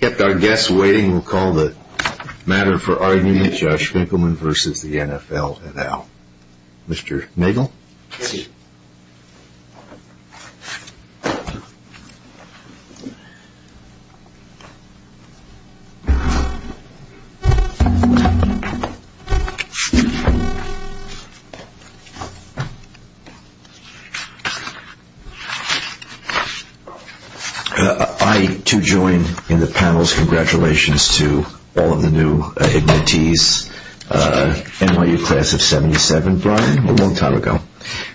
Kept our guests waiting, we'll call the matter for argument, Josh Finkelman v. The NFL, now. Mr. Nagel? Yes, sir. I, too, join in the panel's congratulations to all of the new admittees. NYU class of 77, Brian, a long time ago.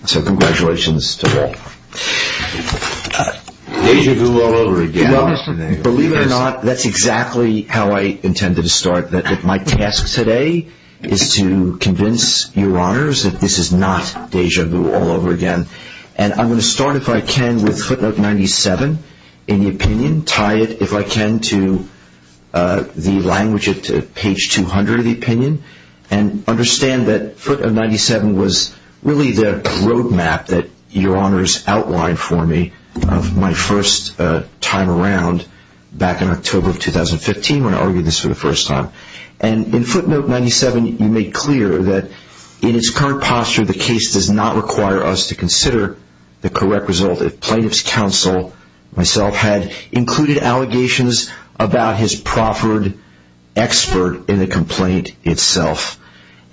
So congratulations to all. Deja vu all over again, Mr. Nagel. Believe it or not, that's exactly how I intended to start, that my task today is to convince your honors that this is not deja vu all over again. And I'm going to start, if I can, with footnote 97 in the opinion, tie it, if I can, to the language at page 200 of the opinion. And understand that footnote 97 was really the road map that your honors outlined for me of my first time around back in October of 2015 when I argued this for the first time. And in footnote 97, you make clear that in its current posture, the case does not require us to consider the correct result if plaintiff's counsel, myself, had included allegations about his proffered expert in the complaint itself.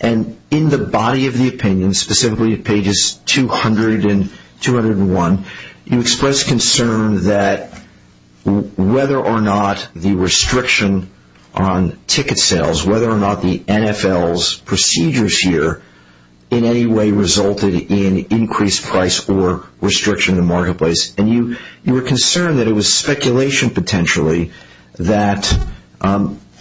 And in the body of the opinion, specifically pages 200 and 201, you expressed concern that whether or not the restriction on ticket sales, whether or not the NFL's procedures here in any way resulted in increased price or restriction in the marketplace. And you were concerned that it was speculation, potentially, that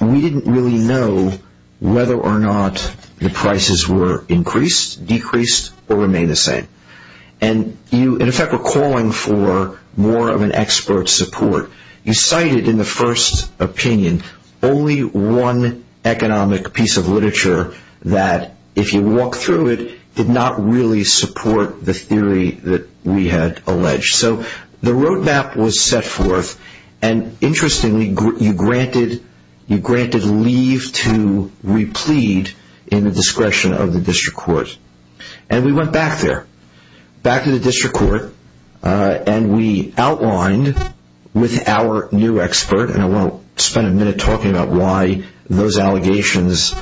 we didn't really know whether or not the prices were increased, decreased, or remained the same. And you, in effect, were calling for more of an expert support. You cited in the first opinion only one economic piece of literature that, if you walk through it, did not really support the theory that we had alleged. So the road map was set forth. And interestingly, you granted leave to replead in the discretion of the district court. And we went back there, back to the district court, and we outlined with our new expert, and I want to spend a minute talking about why those allegations,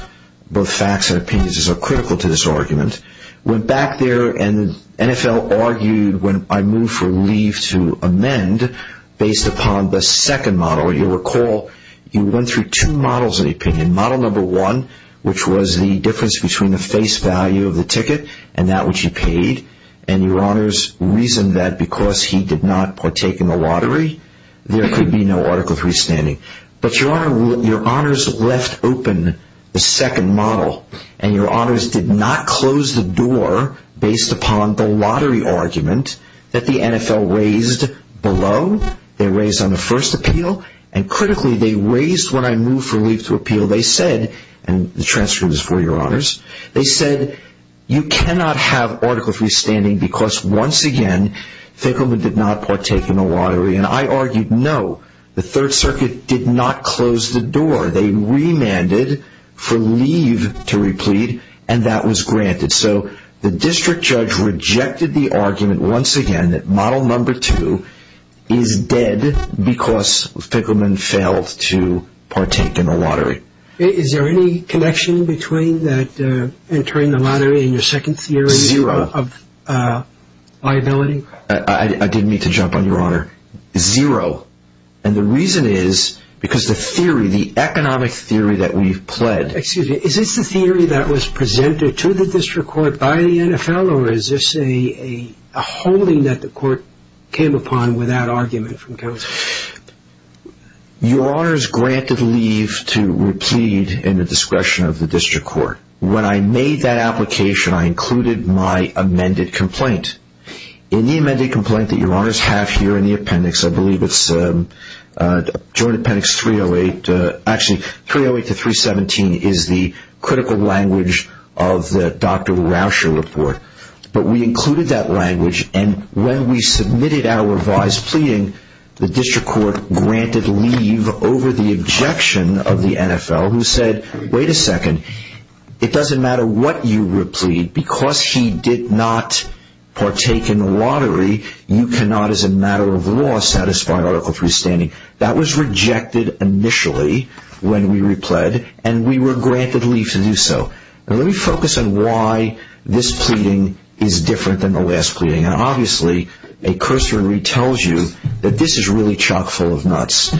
both facts and opinions, are so critical to this argument. Went back there, and the NFL argued when I moved for leave to amend based upon the second model. You'll recall you went through two models of opinion. Model number one, which was the difference between the face value of the ticket and that which you paid. And your honors reasoned that because he did not partake in the lottery, there could be no Article III standing. But your honors left open the second model. And your honors did not close the door based upon the lottery argument that the NFL raised below. They raised on the first appeal. And critically, they raised when I moved for leave to appeal. They said, and the transcript is for your honors. They said, you cannot have Article III standing because, once again, Finkelman did not partake in the lottery. And I argued, no. The Third Circuit did not close the door. They remanded for leave to replead, and that was granted. So the district judge rejected the argument, once again, that model number two is dead because Finkelman failed to partake in the lottery. Is there any connection between that entering the lottery and your second theory of liability? Zero. I didn't mean to jump on your honor. Zero. And the reason is because the theory, the economic theory that we've pled. Excuse me. Is this the theory that was presented to the district court by the NFL, or is this a holding that the court came upon without argument from counsel? Your honors granted leave to replead in the discretion of the district court. When I made that application, I included my amended complaint. In the amended complaint that your honors have here in the appendix, I believe it's joint appendix 308. Actually, 308 to 317 is the critical language of the Dr. Rauscher report. But we included that language, and when we submitted our revised pleading, the district court granted leave over the objection of the NFL who said, Wait a second. It doesn't matter what you replead. Because he did not partake in the lottery, you cannot, as a matter of law, satisfy Article 3 standing. That was rejected initially when we repled, and we were granted leave to do so. Let me focus on why this pleading is different than the last pleading. Obviously, a cursory retells you that this is really chock full of nuts.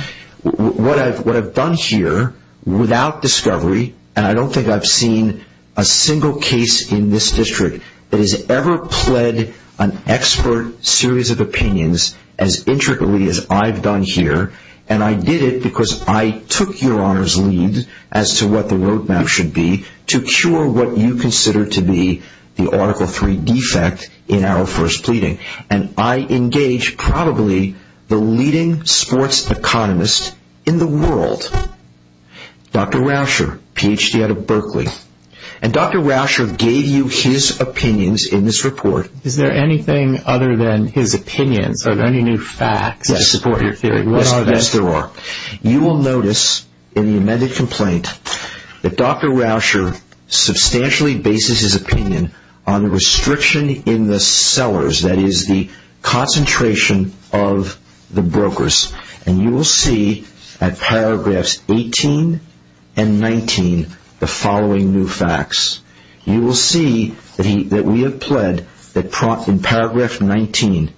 What I've done here, without discovery, and I don't think I've seen a single case in this district that has ever pled an expert series of opinions as intricately as I've done here. And I did it because I took your honors leave as to what the road map should be to cure what you consider to be the Article 3 defect in our first pleading. And I engage probably the leading sports economist in the world, Dr. Rauscher, Ph.D. out of Berkeley. And Dr. Rauscher gave you his opinions in this report. Is there anything other than his opinions? Are there any new facts that support your theory? Yes, there are. You will notice in the amended complaint that Dr. Rauscher substantially bases his opinion on the restriction in the sellers, that is the concentration of the brokers. And you will see at paragraphs 18 and 19 the following new facts. You will see that we have pled that in paragraph 19,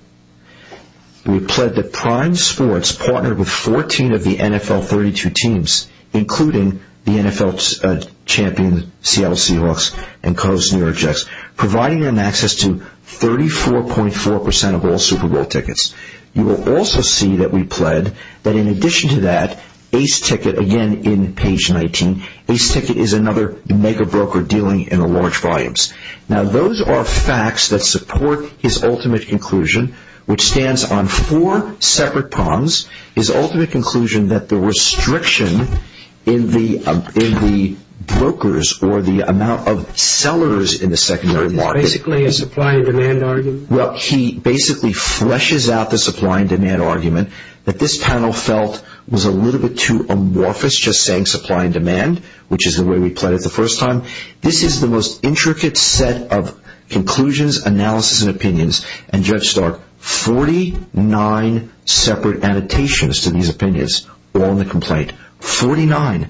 we pled that Prime Sports partnered with 14 of the NFL 32 teams, including the NFL champions Seattle Seahawks and Coastal New York Jets, providing them access to 34.4% of all Super Bowl tickets. You will also see that we pled that in addition to that, Ace Ticket, again in page 19, Ace Ticket is another mega broker dealing in large volumes. Now those are facts that support his ultimate conclusion, which stands on four separate prongs. His ultimate conclusion that the restriction in the brokers or the amount of sellers in the secondary market... Basically a supply and demand argument? Well, he basically fleshes out the supply and demand argument that this panel felt was a little bit too amorphous just saying supply and demand, which is the way we pled it the first time. This is the most intricate set of conclusions, analysis and opinions. And Judge Stark, 49 separate annotations to these opinions on the complaint, 49.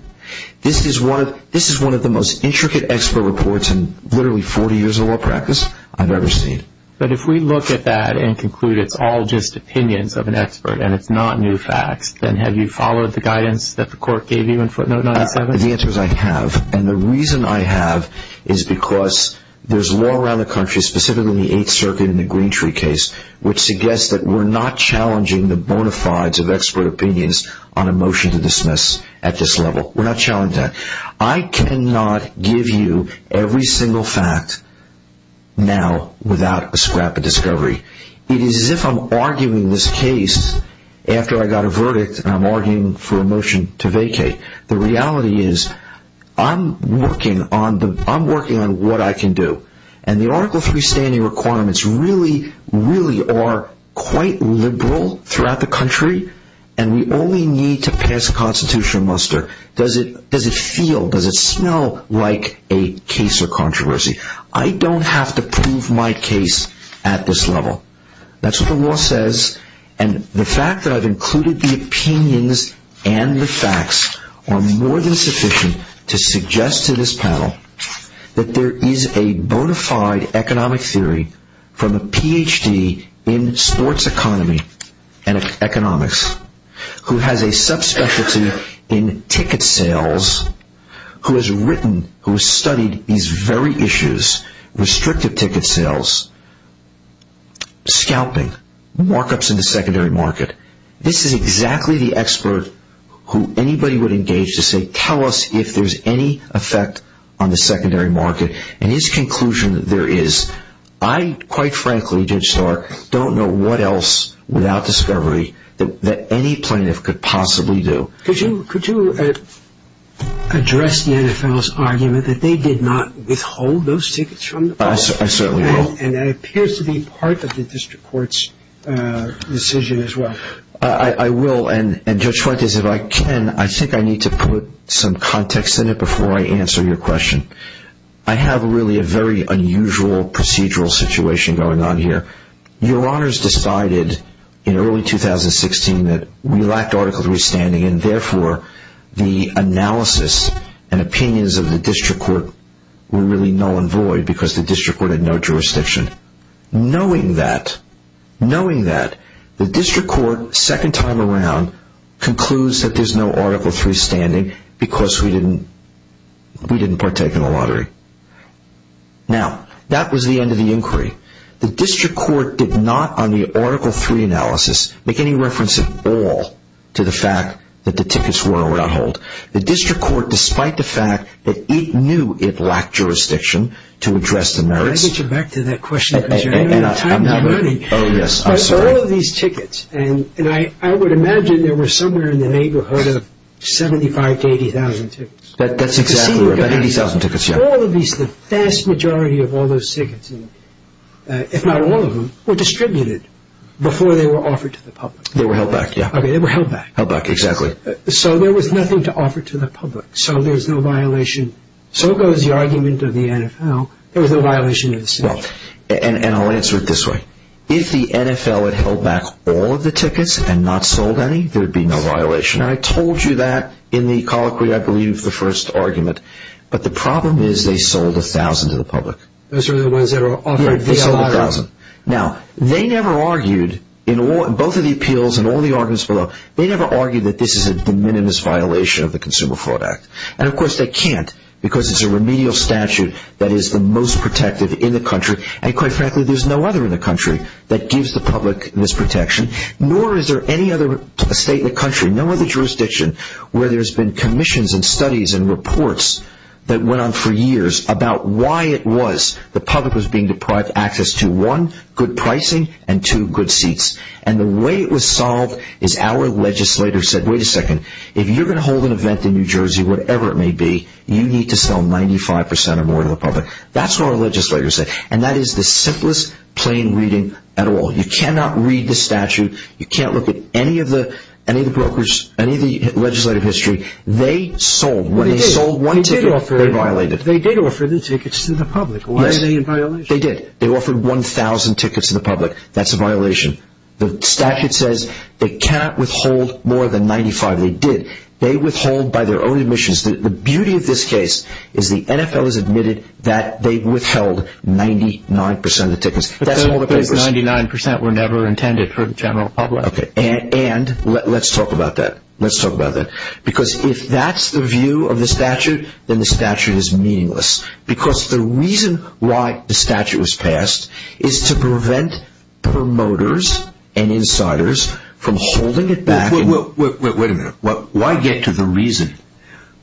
This is one of the most intricate expert reports in literally 40 years of law practice I've ever seen. But if we look at that and conclude it's all just opinions of an expert and it's not new facts, then have you followed the guidance that the court gave you in footnote 97? The answer is I have. And the reason I have is because there's law around the country, specifically in the Eighth Circuit and the Green Tree case, which suggests that we're not challenging the bona fides of expert opinions on a motion to dismiss at this level. We're not challenging that. I cannot give you every single fact now without a scrap of discovery. It is as if I'm arguing this case after I got a verdict and I'm arguing for a motion to vacate. The reality is I'm working on what I can do. And the Article 3 standing requirements really, really are quite liberal throughout the country. And we only need to pass a constitutional muster. Does it feel, does it smell like a case of controversy? I don't have to prove my case at this level. That's what the law says. And the fact that I've included the opinions and the facts are more than sufficient to suggest to this panel that there is a bona fide economic theory from a Ph.D. in sports economy and economics, who has a subspecialty in ticket sales, who has written, who has studied these very issues, restrictive ticket sales, scalping, markups in the secondary market. This is exactly the expert who anybody would engage to say, tell us if there's any effect on the secondary market. And his conclusion there is, I quite frankly, Judge Starr, don't know what else without discovery that any plaintiff could possibly do. Could you address the NFL's argument that they did not withhold those tickets from the public? I certainly will. And that appears to be part of the district court's decision as well. I will. And Judge Fuentes, if I can, I think I need to put some context in it before I answer your question. I have really a very unusual procedural situation going on here. Your Honors decided in early 2016 that we lacked Article III standing and therefore the analysis and opinions of the district court were really null and void because the district court had no jurisdiction. Knowing that, knowing that, the district court, second time around, concludes that there's no Article III standing because we didn't partake in the lottery. Now, that was the end of the inquiry. The district court did not, on the Article III analysis, make any reference at all to the fact that the tickets were on hold. The district court, despite the fact that it knew it lacked jurisdiction to address the merits. Can I get you back to that question? Because you're out of time and money. Oh, yes, I'm sorry. But all of these tickets, and I would imagine there were somewhere in the neighborhood of 75,000 to 80,000 tickets. That's exactly right. About 80,000 tickets, yeah. All of these, the vast majority of all those tickets, if not all of them, were distributed before they were offered to the public. They were held back, yeah. Okay, they were held back. Held back, exactly. So there was nothing to offer to the public. So there's no violation. So goes the argument of the NFL. There was no violation of the statute. And I'll answer it this way. If the NFL had held back all of the tickets and not sold any, there would be no violation. And I told you that in the colloquy, I believe, of the first argument. But the problem is they sold 1,000 to the public. Those are the ones that are offered. Yeah, they sold 1,000. Now, they never argued in both of the appeals and all the arguments below, they never argued that this is a de minimis violation of the Consumer Fraud Act. And, of course, they can't because it's a remedial statute that is the most protective in the country. And, quite frankly, there's no other in the country that gives the public this protection. Nor is there any other state in the country, no other jurisdiction, where there's been commissions and studies and reports that went on for years about why it was the public was being deprived of access to, one, good pricing, and two, good seats. And the way it was solved is our legislators said, wait a second, if you're going to hold an event in New Jersey, whatever it may be, you need to sell 95% or more to the public. That's what our legislators said. And that is the simplest, plain reading at all. You cannot read the statute. You can't look at any of the brokers, any of the legislative history. They sold. When they sold one ticket, they violated. They did offer the tickets to the public. Yes. Did they violate? They did. They offered 1,000 tickets to the public. That's a violation. The statute says they cannot withhold more than 95. They did. They withhold by their own admissions. The beauty of this case is the NFL has admitted that they withheld 99% of the tickets. But those 99% were never intended for the general public. Okay. And let's talk about that. Let's talk about that. Because if that's the view of the statute, then the statute is meaningless. Because the reason why the statute was passed is to prevent promoters and insiders from holding it back. Wait a minute. Why get to the reason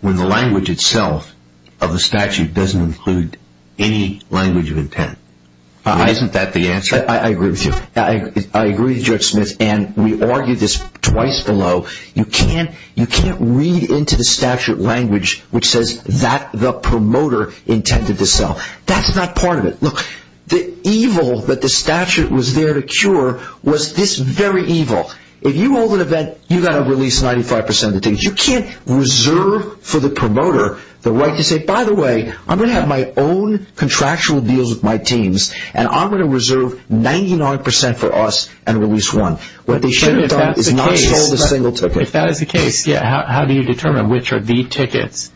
when the language itself of the statute doesn't include any language of intent? Isn't that the answer? I agree with you. I agree with Judge Smith. And we argued this twice below. You can't read into the statute language which says that the promoter intended to sell. That's not part of it. Look, the evil that the statute was there to cure was this very evil. If you hold an event, you've got to release 95% of the tickets. You can't reserve for the promoter the right to say, by the way, I'm going to have my own contractual deals with my teams, and I'm going to reserve 99% for us and release one. If that is the case, how do you determine which are the tickets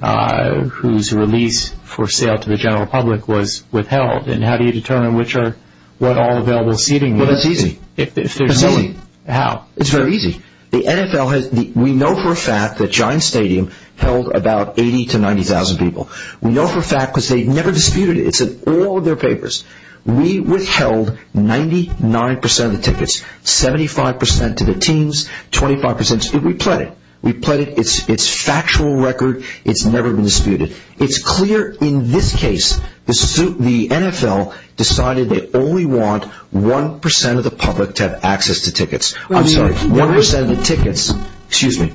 whose release for sale to the general public was withheld? And how do you determine what all available seating was? It's easy. How? It's very easy. We know for a fact that Giants Stadium held about 80,000 to 90,000 people. We know for a fact because they never disputed it. It's in all of their papers. We withheld 99% of the tickets, 75% to the teams, 25% to the players. We pled it. It's factual record. It's never been disputed. It's clear in this case the NFL decided they only want 1% of the public to have access to tickets. I'm sorry, 1% of the tickets. Excuse me.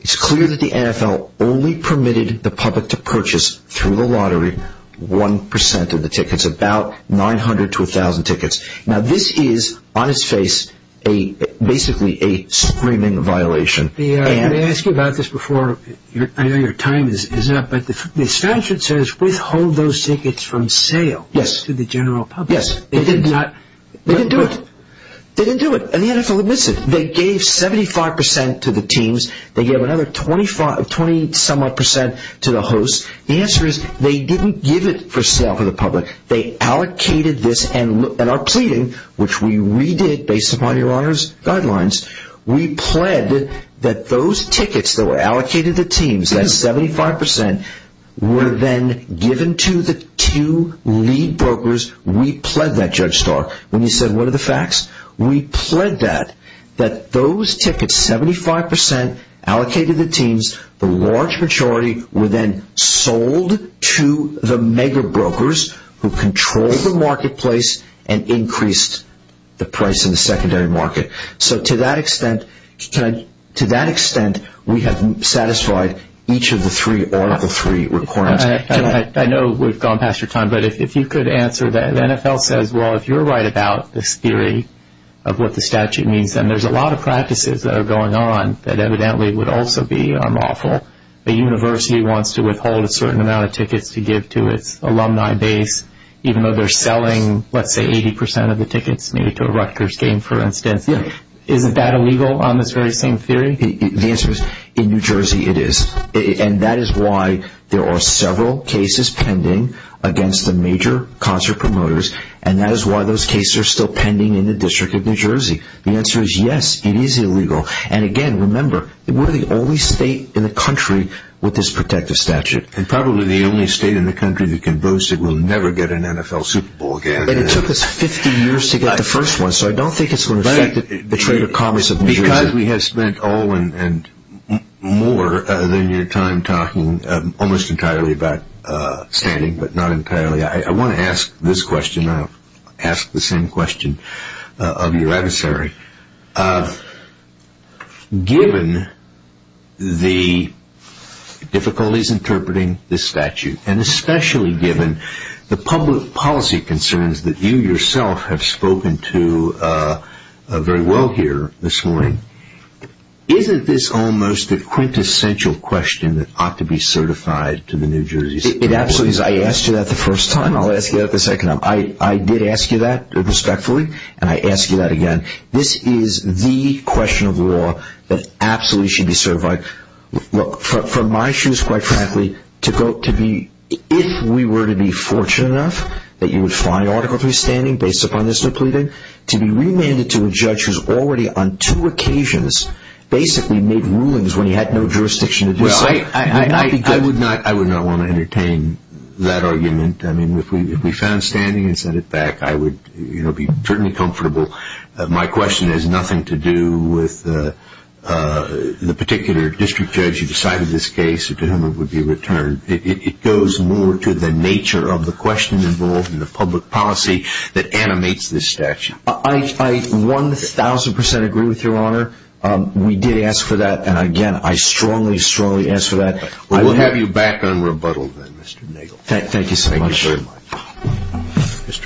It's clear that the NFL only permitted the public to purchase through the lottery 1% of the tickets, about 900 to 1,000 tickets. Now, this is, on its face, basically a screaming violation. May I ask you about this before? I know your time is up, but the statute says withhold those tickets from sale to the general public. Yes. They did not. They didn't do it. They didn't do it, and the NFL admits it. They gave 75% to the teams. They gave another 20-some-odd percent to the hosts. The answer is they didn't give it for sale to the public. They allocated this, and our pleading, which we redid based upon your Honor's guidelines, we pled that those tickets that were allocated to the teams, that 75%, were then given to the two lead brokers. We pled that, Judge Stark. When you said, what are the facts? We pled that, that those tickets, 75%, allocated to the teams. The large majority were then sold to the mega brokers who controlled the marketplace and increased the price in the secondary market. So to that extent, we have satisfied each of the three Article III requirements. I know we've gone past your time, but if you could answer that. The NFL says, well, if you're right about this theory of what the statute means, then there's a lot of practices that are going on that evidently would also be unlawful. A university wants to withhold a certain amount of tickets to give to its alumni base, even though they're selling, let's say, 80% of the tickets made to a Rutgers game, for instance. Isn't that illegal on this very same theory? The answer is, in New Jersey, it is. And that is why there are several cases pending against the major concert promoters, and that is why those cases are still pending in the District of New Jersey. The answer is, yes, it is illegal. And again, remember, we're the only state in the country with this protective statute. And probably the only state in the country that can boast that we'll never get an NFL Super Bowl again. And it took us 50 years to get the first one, so I don't think it's going to affect the trade of commerce of New Jersey. Because we have spent all and more than your time talking almost entirely about standing, but not entirely, I want to ask this question. I'll ask the same question of your adversary. Given the difficulties interpreting this statute, and especially given the public policy concerns that you yourself have spoken to very well here this morning, isn't this almost a quintessential question that ought to be certified to the New Jersey Supreme Court? It absolutely is. I asked you that the first time, I'll ask you that the second time. I did ask you that respectfully, and I ask you that again. Look, from my shoes, quite frankly, if we were to be fortunate enough that you would find Article III standing based upon this depleting, to be remanded to a judge who's already on two occasions basically made rulings when he had no jurisdiction to do so would not be good. I would not want to entertain that argument. I mean, if we found standing and sent it back, I would be certainly comfortable. My question has nothing to do with the particular district judge who decided this case or to whom it would be returned. It goes more to the nature of the question involved in the public policy that animates this statute. I 1,000 percent agree with Your Honor. We did ask for that, and again, I strongly, strongly ask for that. We'll have you back on rebuttal then, Mr. Nagle. Thank you so much. Thank you very much.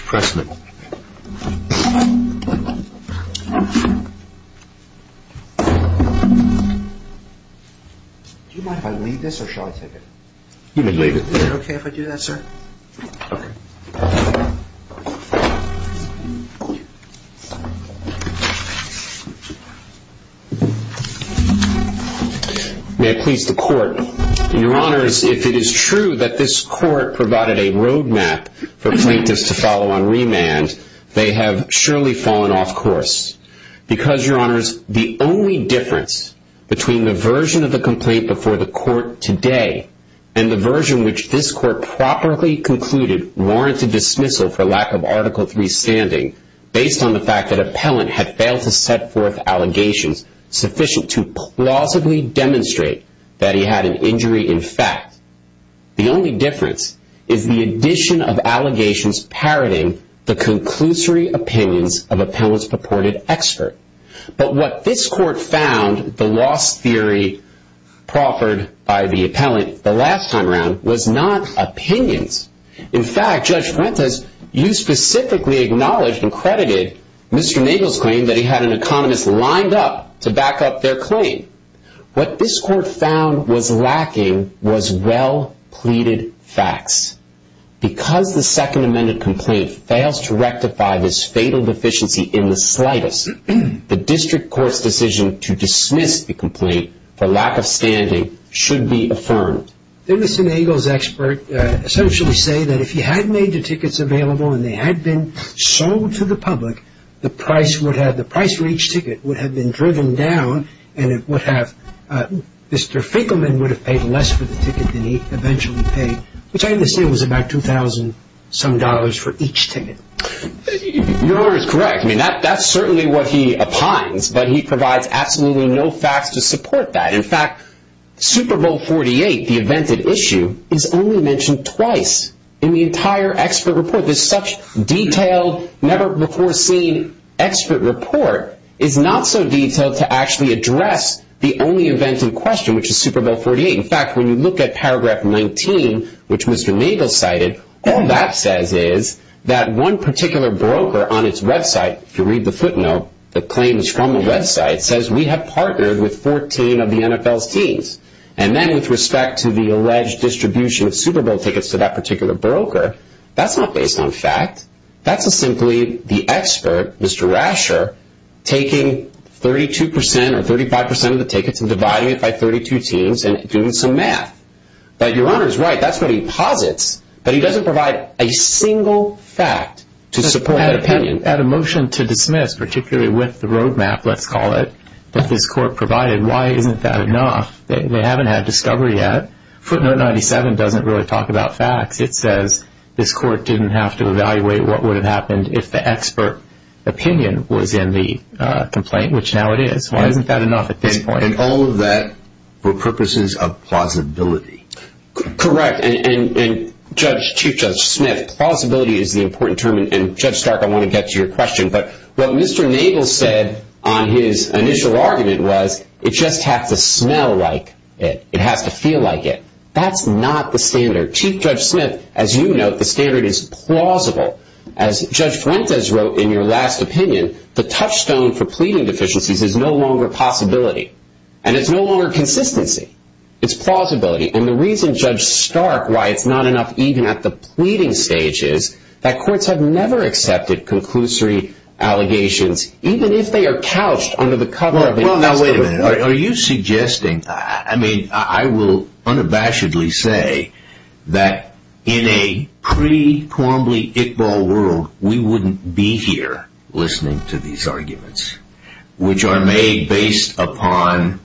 Mr. Pressman. Do you mind if I leave this, or shall I take it? You can leave it. Is it okay if I do that, sir? May it please the Court. Your Honors, if it is true that this Court provided a road map for plaintiffs to follow on remand, they have surely fallen off course. Because, Your Honors, the only difference between the version of the complaint before the Court today and the version which this Court properly concluded warranted dismissal for lack of Article III standing based on the fact that appellant had failed to set forth allegations sufficient to plausibly demonstrate that he had an injury in fact, the only difference is the addition of allegations parroting the conclusory opinions of appellant's purported expert. But what this Court found, the loss theory proffered by the appellant the last time around, was not opinions. In fact, Judge Fuentes, you specifically acknowledged and credited Mr. Nagle's claim that he had an economist lined up to back up their claim. What this Court found was lacking was well-pleaded facts. Because the Second Amendment complaint fails to rectify this fatal deficiency in the slightest, the District Court's decision to dismiss the complaint for lack of standing should be affirmed. Didn't Mr. Nagle's expert essentially say that if he had made the tickets available and they had been sold to the public, the price for each ticket would have been driven down and Mr. Finkelman would have paid less for the ticket than he eventually paid, which I understand was about $2,000 some dollars for each ticket. Your Honor is correct. That's certainly what he opines, but he provides absolutely no facts to support that. In fact, Super Bowl XLVIII, the event at issue, is only mentioned twice in the entire expert report. This such detailed, never-before-seen expert report is not so detailed to actually address the only event in question, which is Super Bowl XLVIII. In fact, when you look at paragraph 19, which Mr. Nagle cited, all that says is that one particular broker on its website, if you read the footnote, the claim is from the website, says we have partnered with 14 of the NFL's teams. And then with respect to the alleged distribution of Super Bowl tickets to that particular broker, that's not based on fact. That's simply the expert, Mr. Rasher, taking 32% or 35% of the tickets and dividing it by 32 teams and doing some math. But Your Honor is right. That's what he posits, but he doesn't provide a single fact to support that opinion. At a motion to dismiss, particularly with the road map, let's call it, that this court provided, why isn't that enough? They haven't had discovery yet. Footnote 97 doesn't really talk about facts. It says this court didn't have to evaluate what would have happened if the expert opinion was in the complaint, which now it is. Why isn't that enough at this point? And all of that for purposes of plausibility. Correct. And Chief Judge Smith, plausibility is the important term. And Judge Stark, I want to get to your question. But what Mr. Nagle said on his initial argument was it just has to smell like it. It has to feel like it. That's not the standard. Chief Judge Smith, as you note, the standard is plausible. As Judge Fuentes wrote in your last opinion, the touchstone for pleading deficiencies is no longer possibility. And it's no longer consistency. It's plausibility. And the reason, Judge Stark, why it's not enough even at the pleading stage is that courts have never accepted conclusory allegations, even if they are couched under the cover of an expert opinion. Well, now, wait a minute. Are you suggesting, I mean, I will unabashedly say that in a pre-Quambly, pre-Iqbal world, we wouldn't be here listening to these arguments, which are made based upon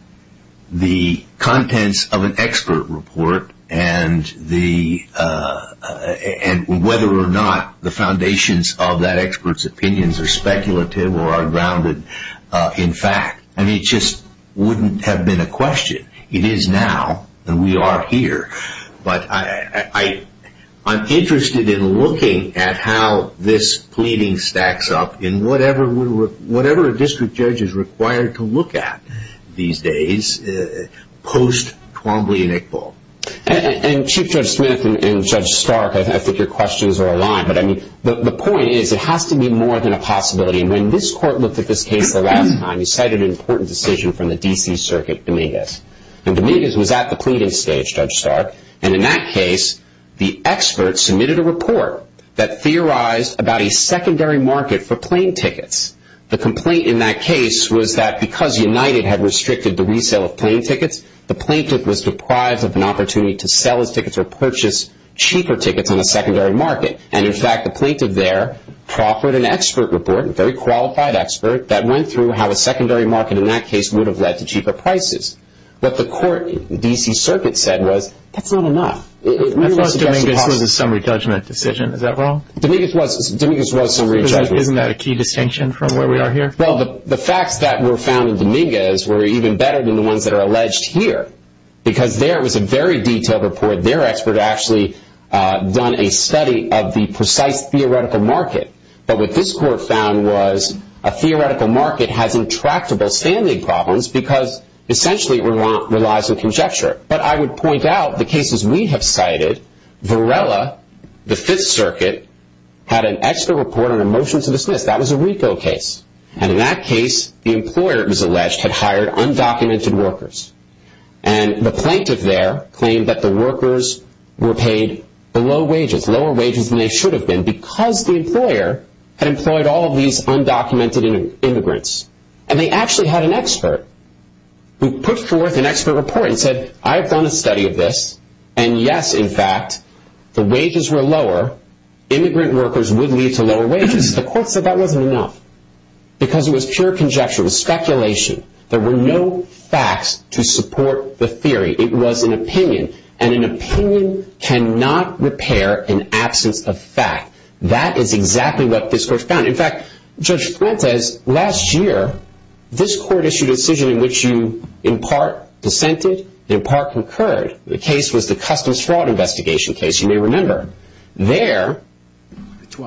the contents of an expert report and whether or not the foundations of that expert's opinions are speculative or are grounded in fact. I mean, it just wouldn't have been a question. It is now, and we are here. But I'm interested in looking at how this pleading stacks up in whatever a district judge is required to look at these days post-Quambly and Iqbal. And Chief Judge Smith and Judge Stark, I think your questions are aligned. But, I mean, the point is it has to be more than a possibility. And when this court looked at this case the last time, it cited an important decision from the D.C. Circuit, Dominguez. And Dominguez was at the pleading stage, Judge Stark. And in that case, the expert submitted a report that theorized about a secondary market for plane tickets. The complaint in that case was that because United had restricted the resale of plane tickets, the plaintiff was deprived of an opportunity to sell his tickets or purchase cheaper tickets on a secondary market. And, in fact, the plaintiff there proffered an expert report, a very qualified expert, that went through how a secondary market in that case would have led to cheaper prices. What the court, the D.C. Circuit, said was, that's not enough. Dominguez was a summary judgment decision. Is that wrong? Dominguez was a summary judgment decision. Isn't that a key distinction from where we are here? Well, the facts that were found in Dominguez were even better than the ones that are alleged here. Because there was a very detailed report. Their expert actually done a study of the precise theoretical market. But what this court found was, a theoretical market has intractable standing problems because, essentially, it relies on conjecture. But I would point out, the cases we have cited, Varela, the Fifth Circuit, had an expert report on a motion to dismiss. That was a RICO case. And in that case, the employer, it was alleged, had hired undocumented workers. And the plaintiff there claimed that the workers were paid below wages, lower wages than they should have been, because the employer had employed all of these undocumented immigrants. And they actually had an expert who put forth an expert report and said, I have done a study of this, and yes, in fact, the wages were lower. Immigrant workers would lead to lower wages. The court said that wasn't enough. Because it was pure conjecture. It was speculation. There were no facts to support the theory. It was an opinion. And an opinion cannot repair an absence of fact. That is exactly what this court found. In fact, Judge Fuentes, last year, this court issued a decision in which you, in part, dissented, in part, concurred. The case was the Customs Fraud Investigation case, you may remember. There,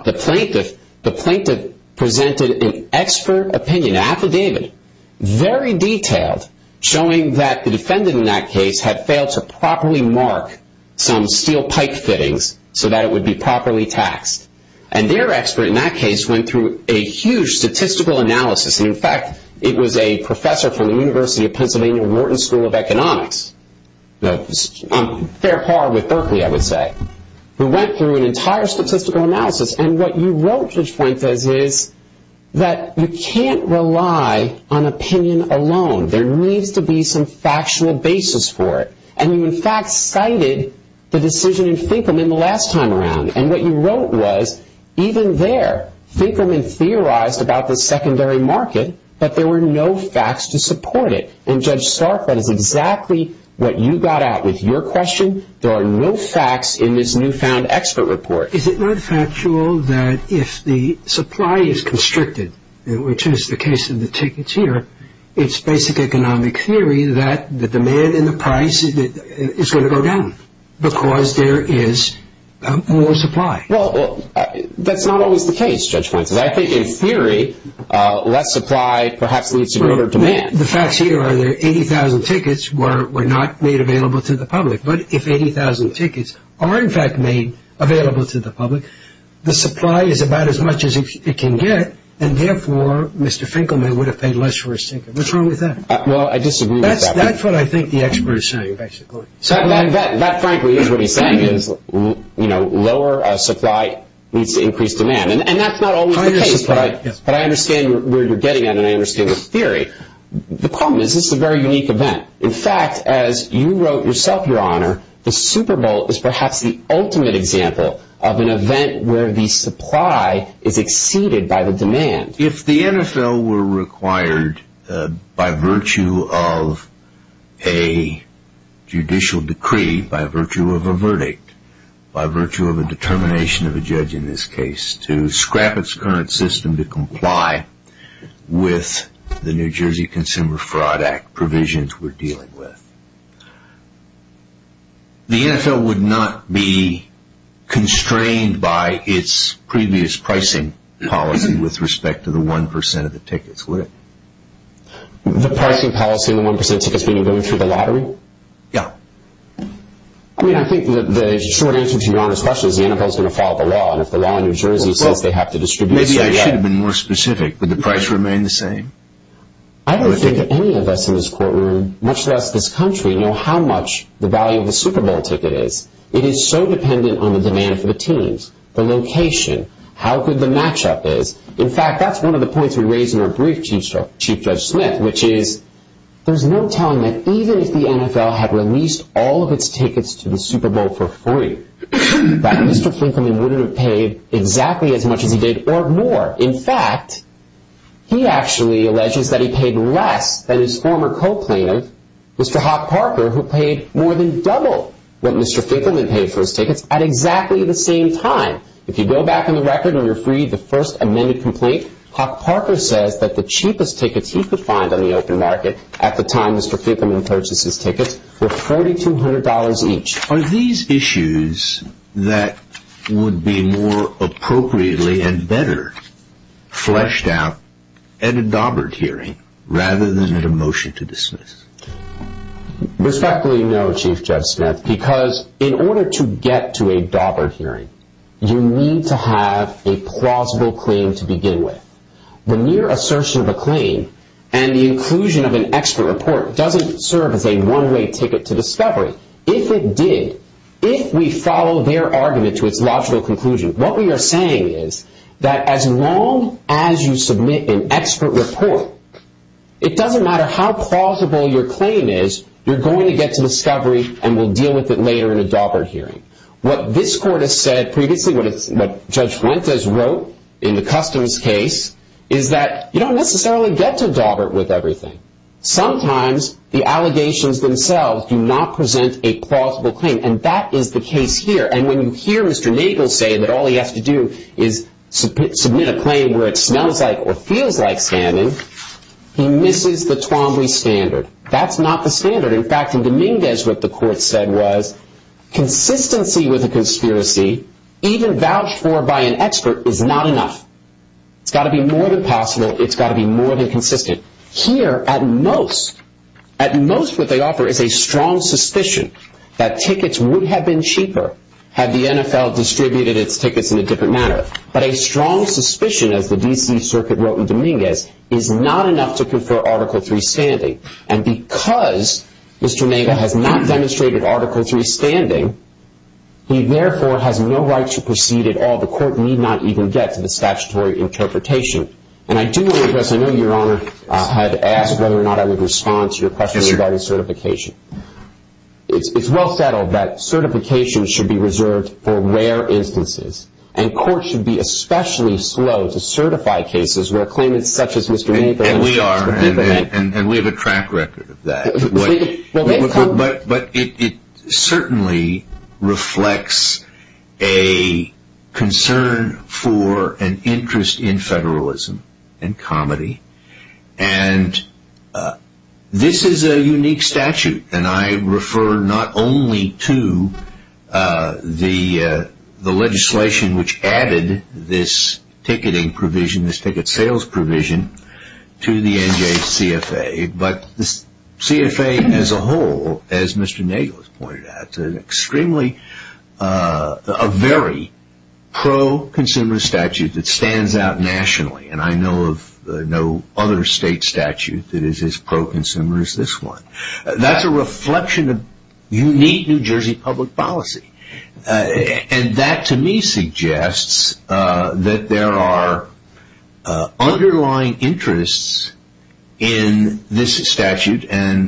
the plaintiff presented an expert opinion, an affidavit, very detailed, showing that the defendant in that case had failed to properly mark some steel pipe fittings so that it would be properly taxed. And their expert in that case went through a huge statistical analysis. And, in fact, it was a professor from the University of Pennsylvania Wharton School of Economics, on fair par with Berkeley, I would say, who went through an entire statistical analysis. And what you wrote, Judge Fuentes, is that you can't rely on opinion alone. There needs to be some factual basis for it. And you, in fact, cited the decision in Finkelman the last time around. And what you wrote was, even there, Finkelman theorized about the secondary market, but there were no facts to support it. And, Judge Stark, that is exactly what you got out with your question. There are no facts in this newfound expert report. Is it not factual that if the supply is constricted, which is the case of the tickets here, it's basic economic theory that the demand and the price is going to go down because there is more supply? Well, that's not always the case, Judge Fuentes. I think, in theory, less supply perhaps leads to greater demand. The facts here are that 80,000 tickets were not made available to the public. But if 80,000 tickets are, in fact, made available to the public, the supply is about as much as it can get. And, therefore, Mr. Finkelman would have paid less for his ticket. What's wrong with that? Well, I disagree with that. That's what I think the expert is saying, basically. That, frankly, is what he's saying, is, you know, lower supply leads to increased demand. And that's not always the case. But I understand where you're getting at, and I understand the theory. The problem is this is a very unique event. In fact, as you wrote yourself, Your Honor, the Super Bowl is perhaps the ultimate example of an event where the supply is exceeded by the demand. If the NFL were required, by virtue of a judicial decree, by virtue of a verdict, by virtue of a determination of a judge in this case, to scrap its current system to comply with the New Jersey Consumer Fraud Act provisions we're dealing with, the NFL would not be constrained by its previous pricing policy with respect to the 1% of the tickets, would it? The pricing policy and the 1% of tickets being going through the lottery? Yeah. I mean, I think the short answer to Your Honor's question is the NFL is going to follow the law. And if the law in New Jersey says they have to distribute some of that. Maybe I should have been more specific. Would the price remain the same? I don't think any of us in this courtroom, much less this country, know how much the value of the Super Bowl ticket is. It is so dependent on the demand for the teams, the location, how good the matchup is. In fact, that's one of the points we raised in our brief, Chief Judge Smith, which is there's no telling that even if the NFL had released all of its tickets to the Super Bowl for free, that Mr. Finkelman wouldn't have paid exactly as much as he did or more. In fact, he actually alleges that he paid less than his former co-planner, Mr. Hawk Parker, who paid more than double what Mr. Finkelman paid for his tickets at exactly the same time. If you go back in the record and you're free, the first amended complaint, Hawk Parker says that the cheapest tickets he could find on the open market at the time Mr. Finkelman purchased his tickets were $4,200 each. Are these issues that would be more appropriately and better fleshed out at a Daubert hearing rather than at a motion to dismiss? Respectfully, no, Chief Judge Smith, because in order to get to a Daubert hearing, you need to have a plausible claim to begin with. The mere assertion of a claim and the inclusion of an extra report doesn't serve as a one-way ticket to discovery. If it did, if we follow their argument to its logical conclusion, what we are saying is that as long as you submit an extra report, it doesn't matter how plausible your claim is, you're going to get to discovery and we'll deal with it later in a Daubert hearing. What this court has said previously, what Judge Fuentes wrote in the customs case, is that you don't necessarily get to Daubert with everything. Sometimes the allegations themselves do not present a plausible claim, and that is the case here. And when you hear Mr. Nagle say that all he has to do is submit a claim where it smells like or feels like scamming, he misses the Twombly standard. That's not the standard. In fact, in Dominguez, what the court said was consistency with a conspiracy, even vouched for by an expert, is not enough. It's got to be more than possible. It's got to be more than consistent. Here, at most, at most what they offer is a strong suspicion that tickets would have been cheaper had the NFL distributed its tickets in a different manner. But a strong suspicion, as the D.C. Circuit wrote in Dominguez, is not enough to confer Article III standing. And because Mr. Nagle has not demonstrated Article III standing, he therefore has no right to proceed at all. The court need not even get to the statutory interpretation. And I do want to address, I know Your Honor had asked whether or not I would respond to your question regarding certification. It's well settled that certification should be reserved for rare instances, and courts should be especially slow to certify cases where claimants such as Mr. Nagle And we are, and we have a track record of that. But it certainly reflects a concern for an interest in federalism and comedy. And this is a unique statute. And I refer not only to the legislation which added this ticketing provision, this ticket sales provision, to the NJCFA. But the CFA as a whole, as Mr. Nagle has pointed out, is extremely, a very pro-consumer statute that stands out nationally. And I know of no other state statute that is as pro-consumer as this one. That's a reflection of unique New Jersey public policy. And that to me suggests that there are underlying interests in this statute,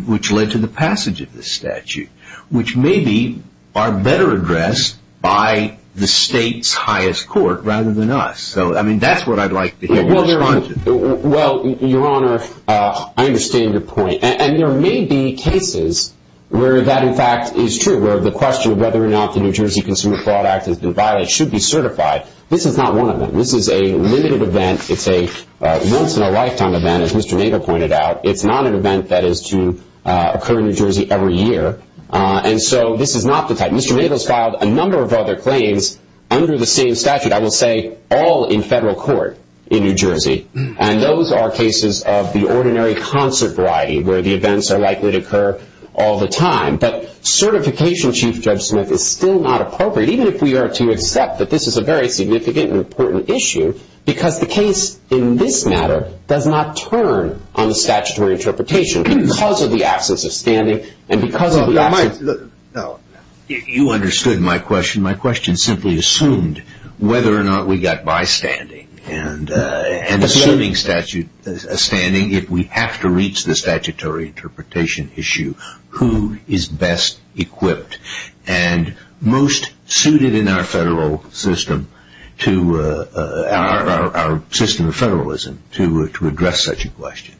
which led to the passage of this statute, which maybe are better addressed by the state's highest court rather than us. So, I mean, that's what I'd like to hear you respond to. Well, Your Honor, I understand your point. And there may be cases where that, in fact, is true. Where the question of whether or not the New Jersey Consumer Fraud Act has been violated should be certified. This is not one of them. This is a limited event. It's a once-in-a-lifetime event, as Mr. Nagle pointed out. It's not an event that is to occur in New Jersey every year. And so this is not the type. Mr. Nagle has filed a number of other claims under the same statute. I will say all in federal court in New Jersey. And those are cases of the ordinary concert variety where the events are likely to occur all the time. But certification, Chief Judge Smith, is still not appropriate, even if we are to accept that this is a very significant and important issue, because the case in this matter does not turn on the statutory interpretation because of the absence of standing and because of the absence of the ---- You understood my question. My question simply assumed whether or not we got by standing and assuming a standing if we have to reach the statutory interpretation issue, who is best equipped and most suited in our federal system to our system of federalism to address such a question.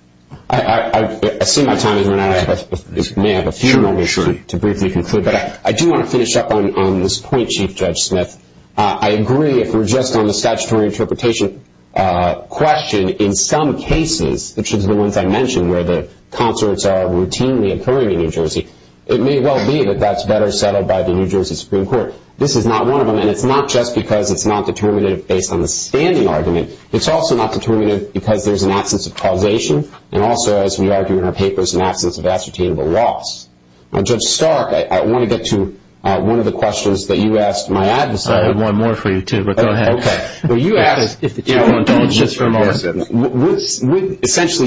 I see my time is running out. I may have a few more minutes to briefly conclude. But I do want to finish up on this point, Chief Judge Smith. I agree if we're just on the statutory interpretation question, in some cases, which is the ones I mentioned where the concerts are routinely occurring in New Jersey, it may well be that that's better settled by the New Jersey Supreme Court. This is not one of them. And it's not just because it's not determinative based on the standing argument. It's also not determinative because there's an absence of causation and also, as we argue in our papers, an absence of ascertainable loss. Now, Judge Stark, I want to get to one of the questions that you asked my adversary. I have one more for you, too, but go ahead. Okay. Well, you asked, essentially,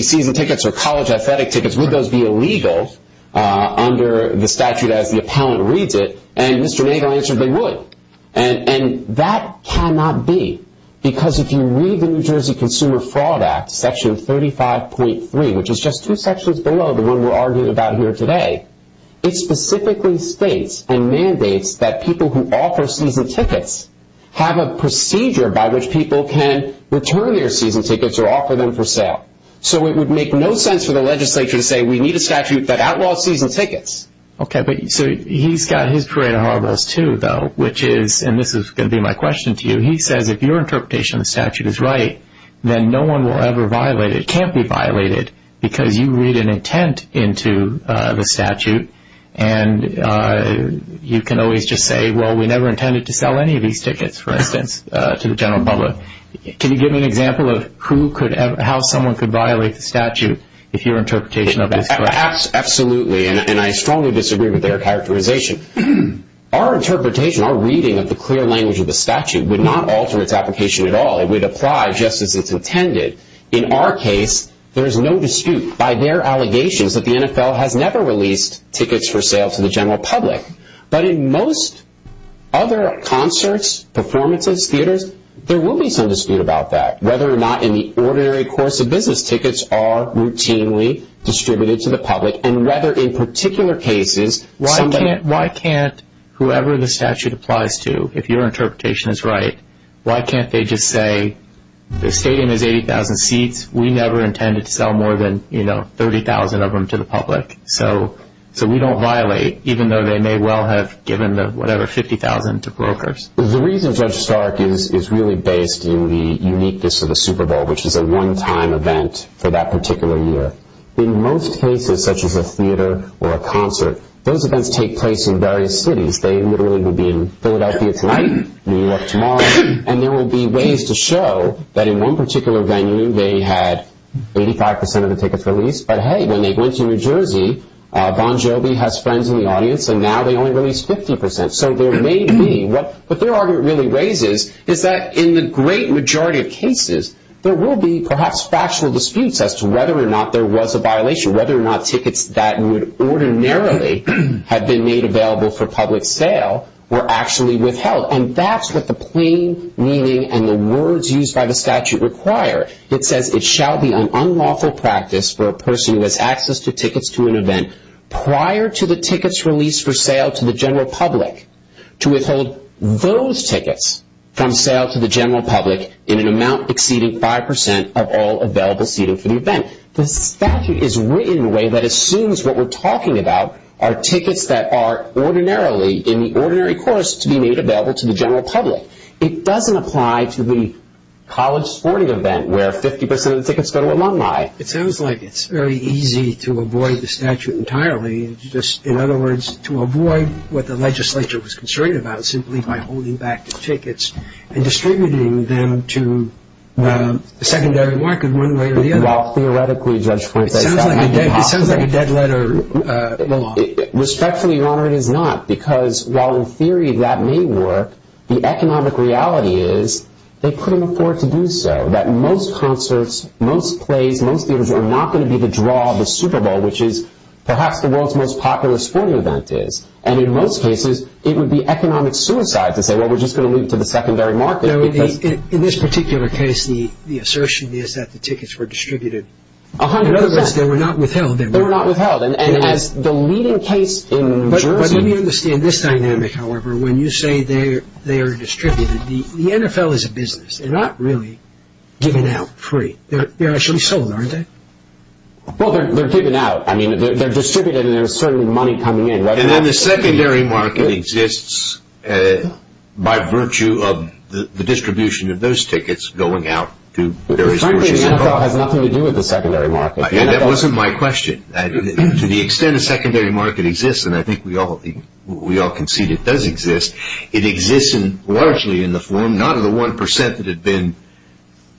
season tickets or college athletic tickets, would those be illegal under the statute as the appellant reads it? And Mr. Nagle answered they would. And that cannot be because if you read the New Jersey Consumer Fraud Act, Section 35.3, which is just two sections below the one we're arguing about here today, it specifically states and mandates that people who offer season tickets have a procedure by which people can return their season tickets or offer them for sale. So it would make no sense for the legislature to say we need a statute that outlaws season tickets. Okay. So he's got his parade of horribles, too, though, which is, and this is going to be my question to you, he says if your interpretation of the statute is right, then no one will ever violate it. It can't be violated because you read an intent into the statute and you can always just say, well, we never intended to sell any of these tickets, for instance, to the general public. Can you give me an example of how someone could violate the statute if your interpretation of it is correct? Absolutely, and I strongly disagree with their characterization. Our interpretation, our reading of the clear language of the statute would not alter its application at all. It would apply just as it's intended. In our case, there is no dispute by their allegations that the NFL has never released tickets for sale to the general public. But in most other concerts, performances, theaters, there will be some dispute about that, whether or not in the ordinary course of business tickets are routinely distributed to the public and whether in particular cases somebody- Why can't whoever the statute applies to, if your interpretation is right, why can't they just say the stadium has 80,000 seats. We never intended to sell more than, you know, 30,000 of them to the public. So we don't violate, even though they may well have given the, whatever, 50,000 to brokers. The reason Judge Stark is really based in the uniqueness of the Super Bowl, which is a one-time event for that particular year. In most cases, such as a theater or a concert, those events take place in various cities. They literally would be in Philadelphia tonight, New York tomorrow. And there will be ways to show that in one particular venue they had 85% of the tickets released. But, hey, when they went to New Jersey, Bon Jovi has friends in the audience, and now they only released 50%. So there may be- What their argument really raises is that in the great majority of cases, there will be perhaps factual disputes as to whether or not there was a violation, whether or not tickets that would ordinarily have been made available for public sale were actually withheld. And that's what the plain meaning and the words used by the statute require. It says it shall be an unlawful practice for a person who has access to tickets to an event prior to the tickets released for sale to the general public to withhold those tickets from sale to the general public in an amount exceeding 5% of all available seating for the event. The statute is written in a way that assumes what we're talking about are tickets that are ordinarily in the ordinary course to be made available to the general public. It doesn't apply to the college sporting event where 50% of the tickets go to alumni. It sounds like it's very easy to avoid the statute entirely. In other words, to avoid what the legislature was concerned about simply by holding back the tickets and distributing them to the secondary market one way or the other. Well, theoretically, Judge Flint, that sounds impossible. It sounds like a dead letter law. Respectfully, Your Honor, it is not because while in theory that may work, the economic reality is they couldn't afford to do so. That most concerts, most plays, most theaters are not going to be the draw of the Super Bowl, which is perhaps the world's most popular sporting event is. And in most cases, it would be economic suicide to say, well, we're just going to leave it to the secondary market. In this particular case, the assertion is that the tickets were distributed. In other words, they were not withheld. They were not withheld. And as the leading case in New Jersey. But let me understand this dynamic, however. When you say they are distributed, the NFL is a business. They're not really given out free. They're actually sold, aren't they? Well, they're given out. I mean, they're distributed and there's certainly money coming in. And then the secondary market exists by virtue of the distribution of those tickets going out to various. Frankly, the NFL has nothing to do with the secondary market. That wasn't my question. To the extent the secondary market exists, and I think we all concede it does exist, it exists largely in the form not of the 1% that had been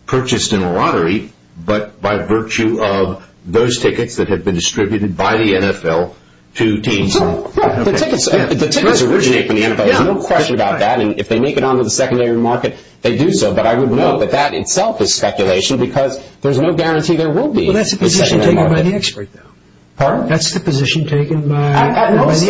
purchased in a lottery, but by virtue of those tickets that had been distributed by the NFL to teams. The tickets originate from the NFL. There's no question about that. And if they make it onto the secondary market, they do so. But I would note that that itself is speculation because there's no guarantee there will be. Well, that's the position taken by the expert, though. Pardon? That's the position taken by the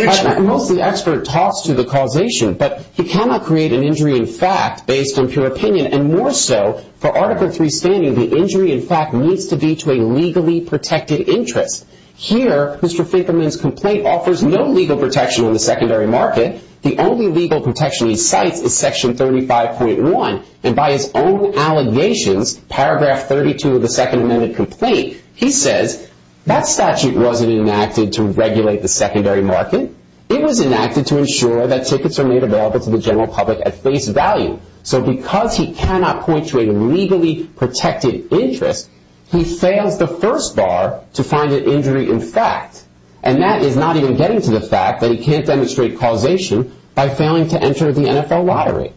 expert. I know the expert talks to the causation, but he cannot create an injury in fact based on pure opinion. And more so, for Article III standing, the injury in fact needs to be to a legally protected interest. Here, Mr. Finkelman's complaint offers no legal protection on the secondary market. The only legal protection he cites is Section 35.1. And by his own allegations, paragraph 32 of the Second Amendment complaint, he says, that statute wasn't enacted to regulate the secondary market. It was enacted to ensure that tickets are made available to the general public at face value. So because he cannot point to a legally protected interest, he fails the first bar to find an injury in fact. And that is not even getting to the fact that he can't demonstrate causation by failing to enter the NFL lottery.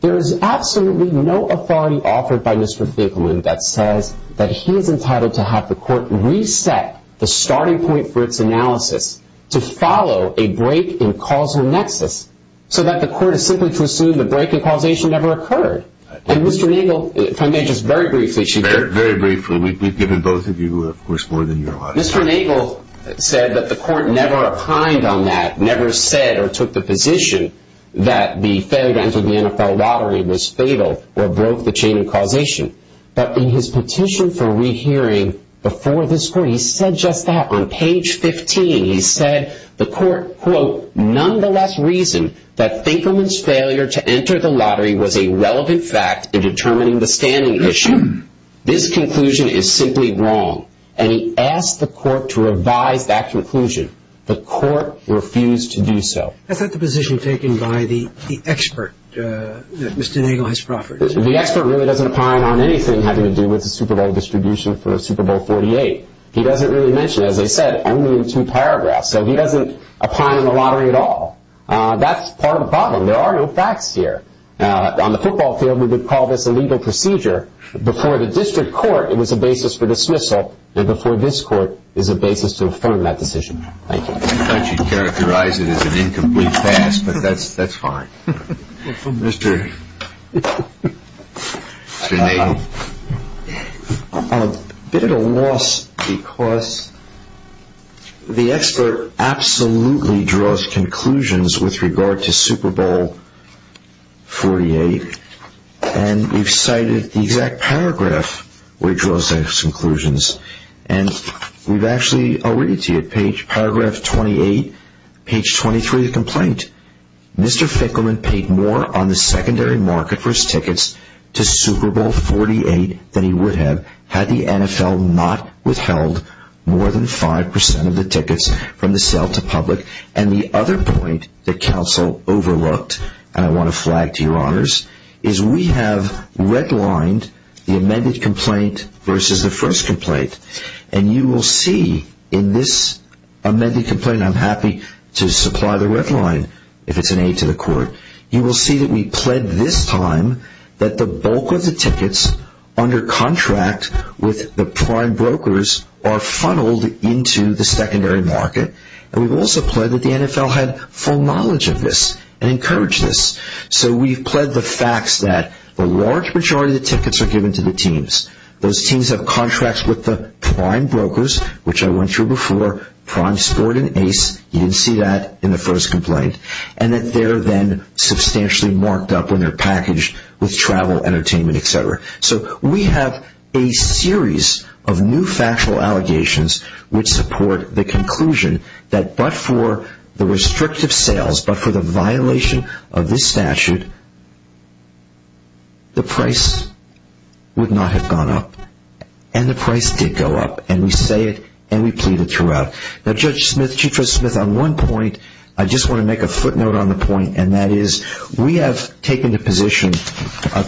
There is absolutely no authority offered by Mr. Finkelman that says that he is entitled to have the court reset the starting point for its analysis to follow a break in causal nexus, so that the court is simply to assume the break in causation never occurred. And Mr. Nagel, if I may just very briefly, she – Very briefly. We've given both of you, of course, more than you are allowed to. Mr. Nagel said that the court never opined on that, never said or took the position that the failure to enter the NFL lottery was fatal or broke the chain of causation. But in his petition for rehearing before this court, he said just that. On page 15, he said the court, quote, nonetheless reasoned that Finkelman's failure to enter the lottery was a relevant fact in determining the standing issue. This conclusion is simply wrong. And he asked the court to revise that conclusion. The court refused to do so. Is that the position taken by the expert that Mr. Nagel has proffered? The expert really doesn't opine on anything having to do with the Super Bowl distribution for the Super Bowl XLVIII. He doesn't really mention it. As I said, only in two paragraphs. So he doesn't opine on the lottery at all. That's part of the problem. There are no facts here. On the football field, we would call this a legal procedure. Before the district court, it was a basis for dismissal. And before this court, it's a basis to affirm that decision. Thank you. I thought you'd characterize it as an incomplete past, but that's fine. Mr. Nagel. I'm a bit at a loss because the expert absolutely draws conclusions with regard to Super Bowl XLVIII. And you've cited the exact paragraph where he draws those conclusions. And we've actually already see it. Page 28, page 23 of the complaint. Mr. Finkelman paid more on the secondary market for his tickets to Super Bowl XLVIII than he would have had the NFL not withheld more than 5% of the tickets from the sale to public. And the other point that counsel overlooked, and I want to flag to your honors, is we have redlined the amended complaint versus the first complaint. And you will see in this amended complaint, I'm happy to supply the redline if it's an aid to the court. You will see that we pled this time that the bulk of the tickets under contract with the prime brokers are funneled into the secondary market. And we've also pled that the NFL had full knowledge of this and encouraged this. So we've pled the facts that the large majority of the tickets are given to the teams. Those teams have contracts with the prime brokers, which I went through before. Prime scored an ace. You didn't see that in the first complaint. And that they're then substantially marked up when they're packaged with travel, entertainment, etc. So we have a series of new factual allegations which support the conclusion that but for the restrictive sales, but for the violation of this statute, the price would not have gone up. And the price did go up. And we say it, and we plead it throughout. Now Judge Smith, Chief Judge Smith, on one point, I just want to make a footnote on the point, and that is we have taken the position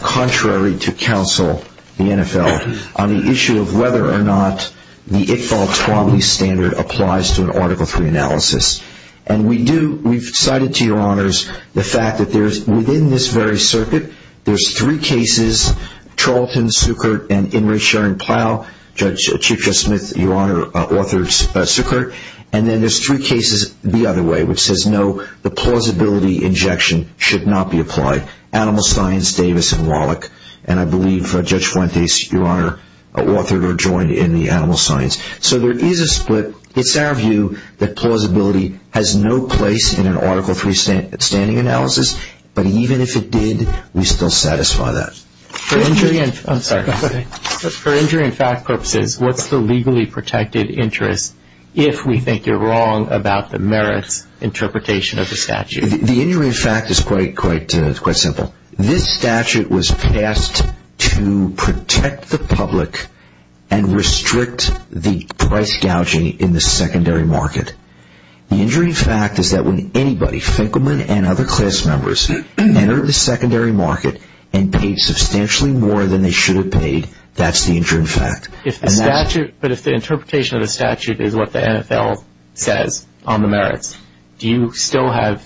contrary to counsel, the NFL, on the issue of whether or not the Iqbal-Tawami standard applies to an Article III analysis. And we do, we've cited to your honors the fact that there's, within this very circuit, there's three cases, Charlton, Sukert, and Imre-Sharon Plow. Judge Chief Judge Smith, your honor, authored Sukert. And then there's three cases the other way, which says no, the plausibility injection should not be applied. Animal Science, Davis, and Wallach. And I believe Judge Fuentes, your honor, authored or joined in the Animal Science. So there is a split. It's our view that plausibility has no place in an Article III standing analysis. But even if it did, we still satisfy that. For injury and fact purposes, what's the legally protected interest, if we think you're wrong about the merits interpretation of the statute? The injury in fact is quite simple. This statute was passed to protect the public and restrict the price gouging in the secondary market. The injury in fact is that when anybody, Finkelman and other class members, enter the secondary market and paid substantially more than they should have paid, that's the injury in fact. But if the interpretation of the statute is what the NFL says on the merits, do you still have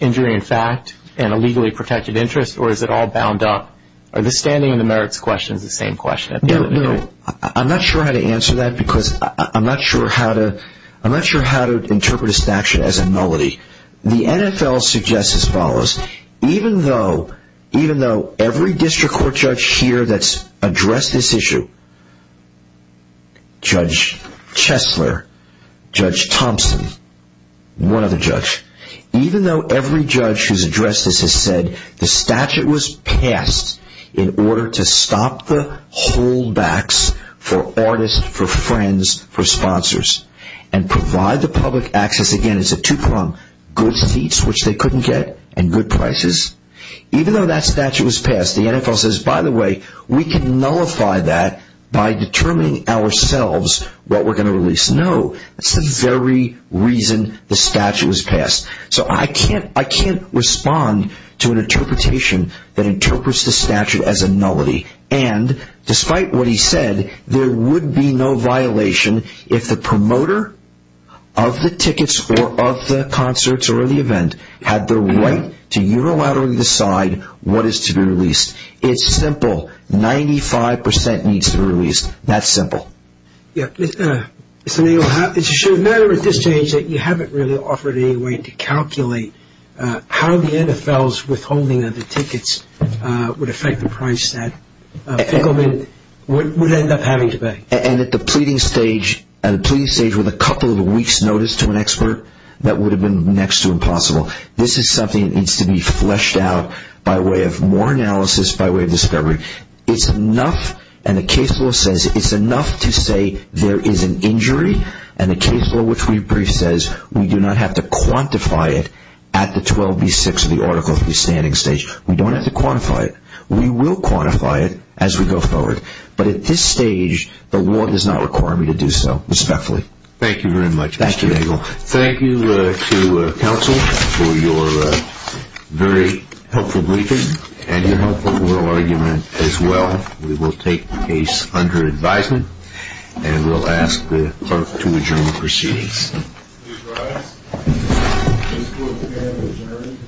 injury in fact and a legally protected interest, or is it all bound up? Are the standing and the merits questions the same question? No, I'm not sure how to answer that because I'm not sure how to interpret a statute as a nullity. The NFL suggests as follows. Even though every district court judge here that's addressed this issue, Judge Chesler, Judge Thompson, one other judge, even though every judge who's addressed this has said the statute was passed in order to stop the holdbacks for artists, for friends, for sponsors, and provide the public access again, it's a two-prong, good seats which they couldn't get and good prices, even though that statute was passed, the NFL says, by the way, we can nullify that by determining ourselves what we're going to release. No, that's the very reason the statute was passed. So I can't respond to an interpretation that interprets the statute as a nullity. And despite what he said, there would be no violation if the promoter of the tickets or of the concerts or of the event had the right to unilaterally decide what is to be released. It's simple. Ninety-five percent needs to be released. That's simple. It's a matter at this stage that you haven't really offered any way to calculate how the NFL's withholding of the tickets would affect the price that Pickleman would end up having to pay. And at the pleading stage with a couple of weeks' notice to an expert, that would have been next to impossible. This is something that needs to be fleshed out by way of more analysis, by way of discovery. It's enough, and the case law says it's enough to say there is an injury, and the case law which we briefed says we do not have to quantify it at the 12B6 or the Article 3 standing stage. We don't have to quantify it. We will quantify it as we go forward. But at this stage, the law does not require me to do so. Respectfully. Thank you very much. Thank you, Daniel. For your very helpful briefing and your helpful oral argument as well. We will take the case under advisement, and we'll ask the clerk to adjourn the proceedings. Please rise. Case Closed again. Adjourned. Thank you.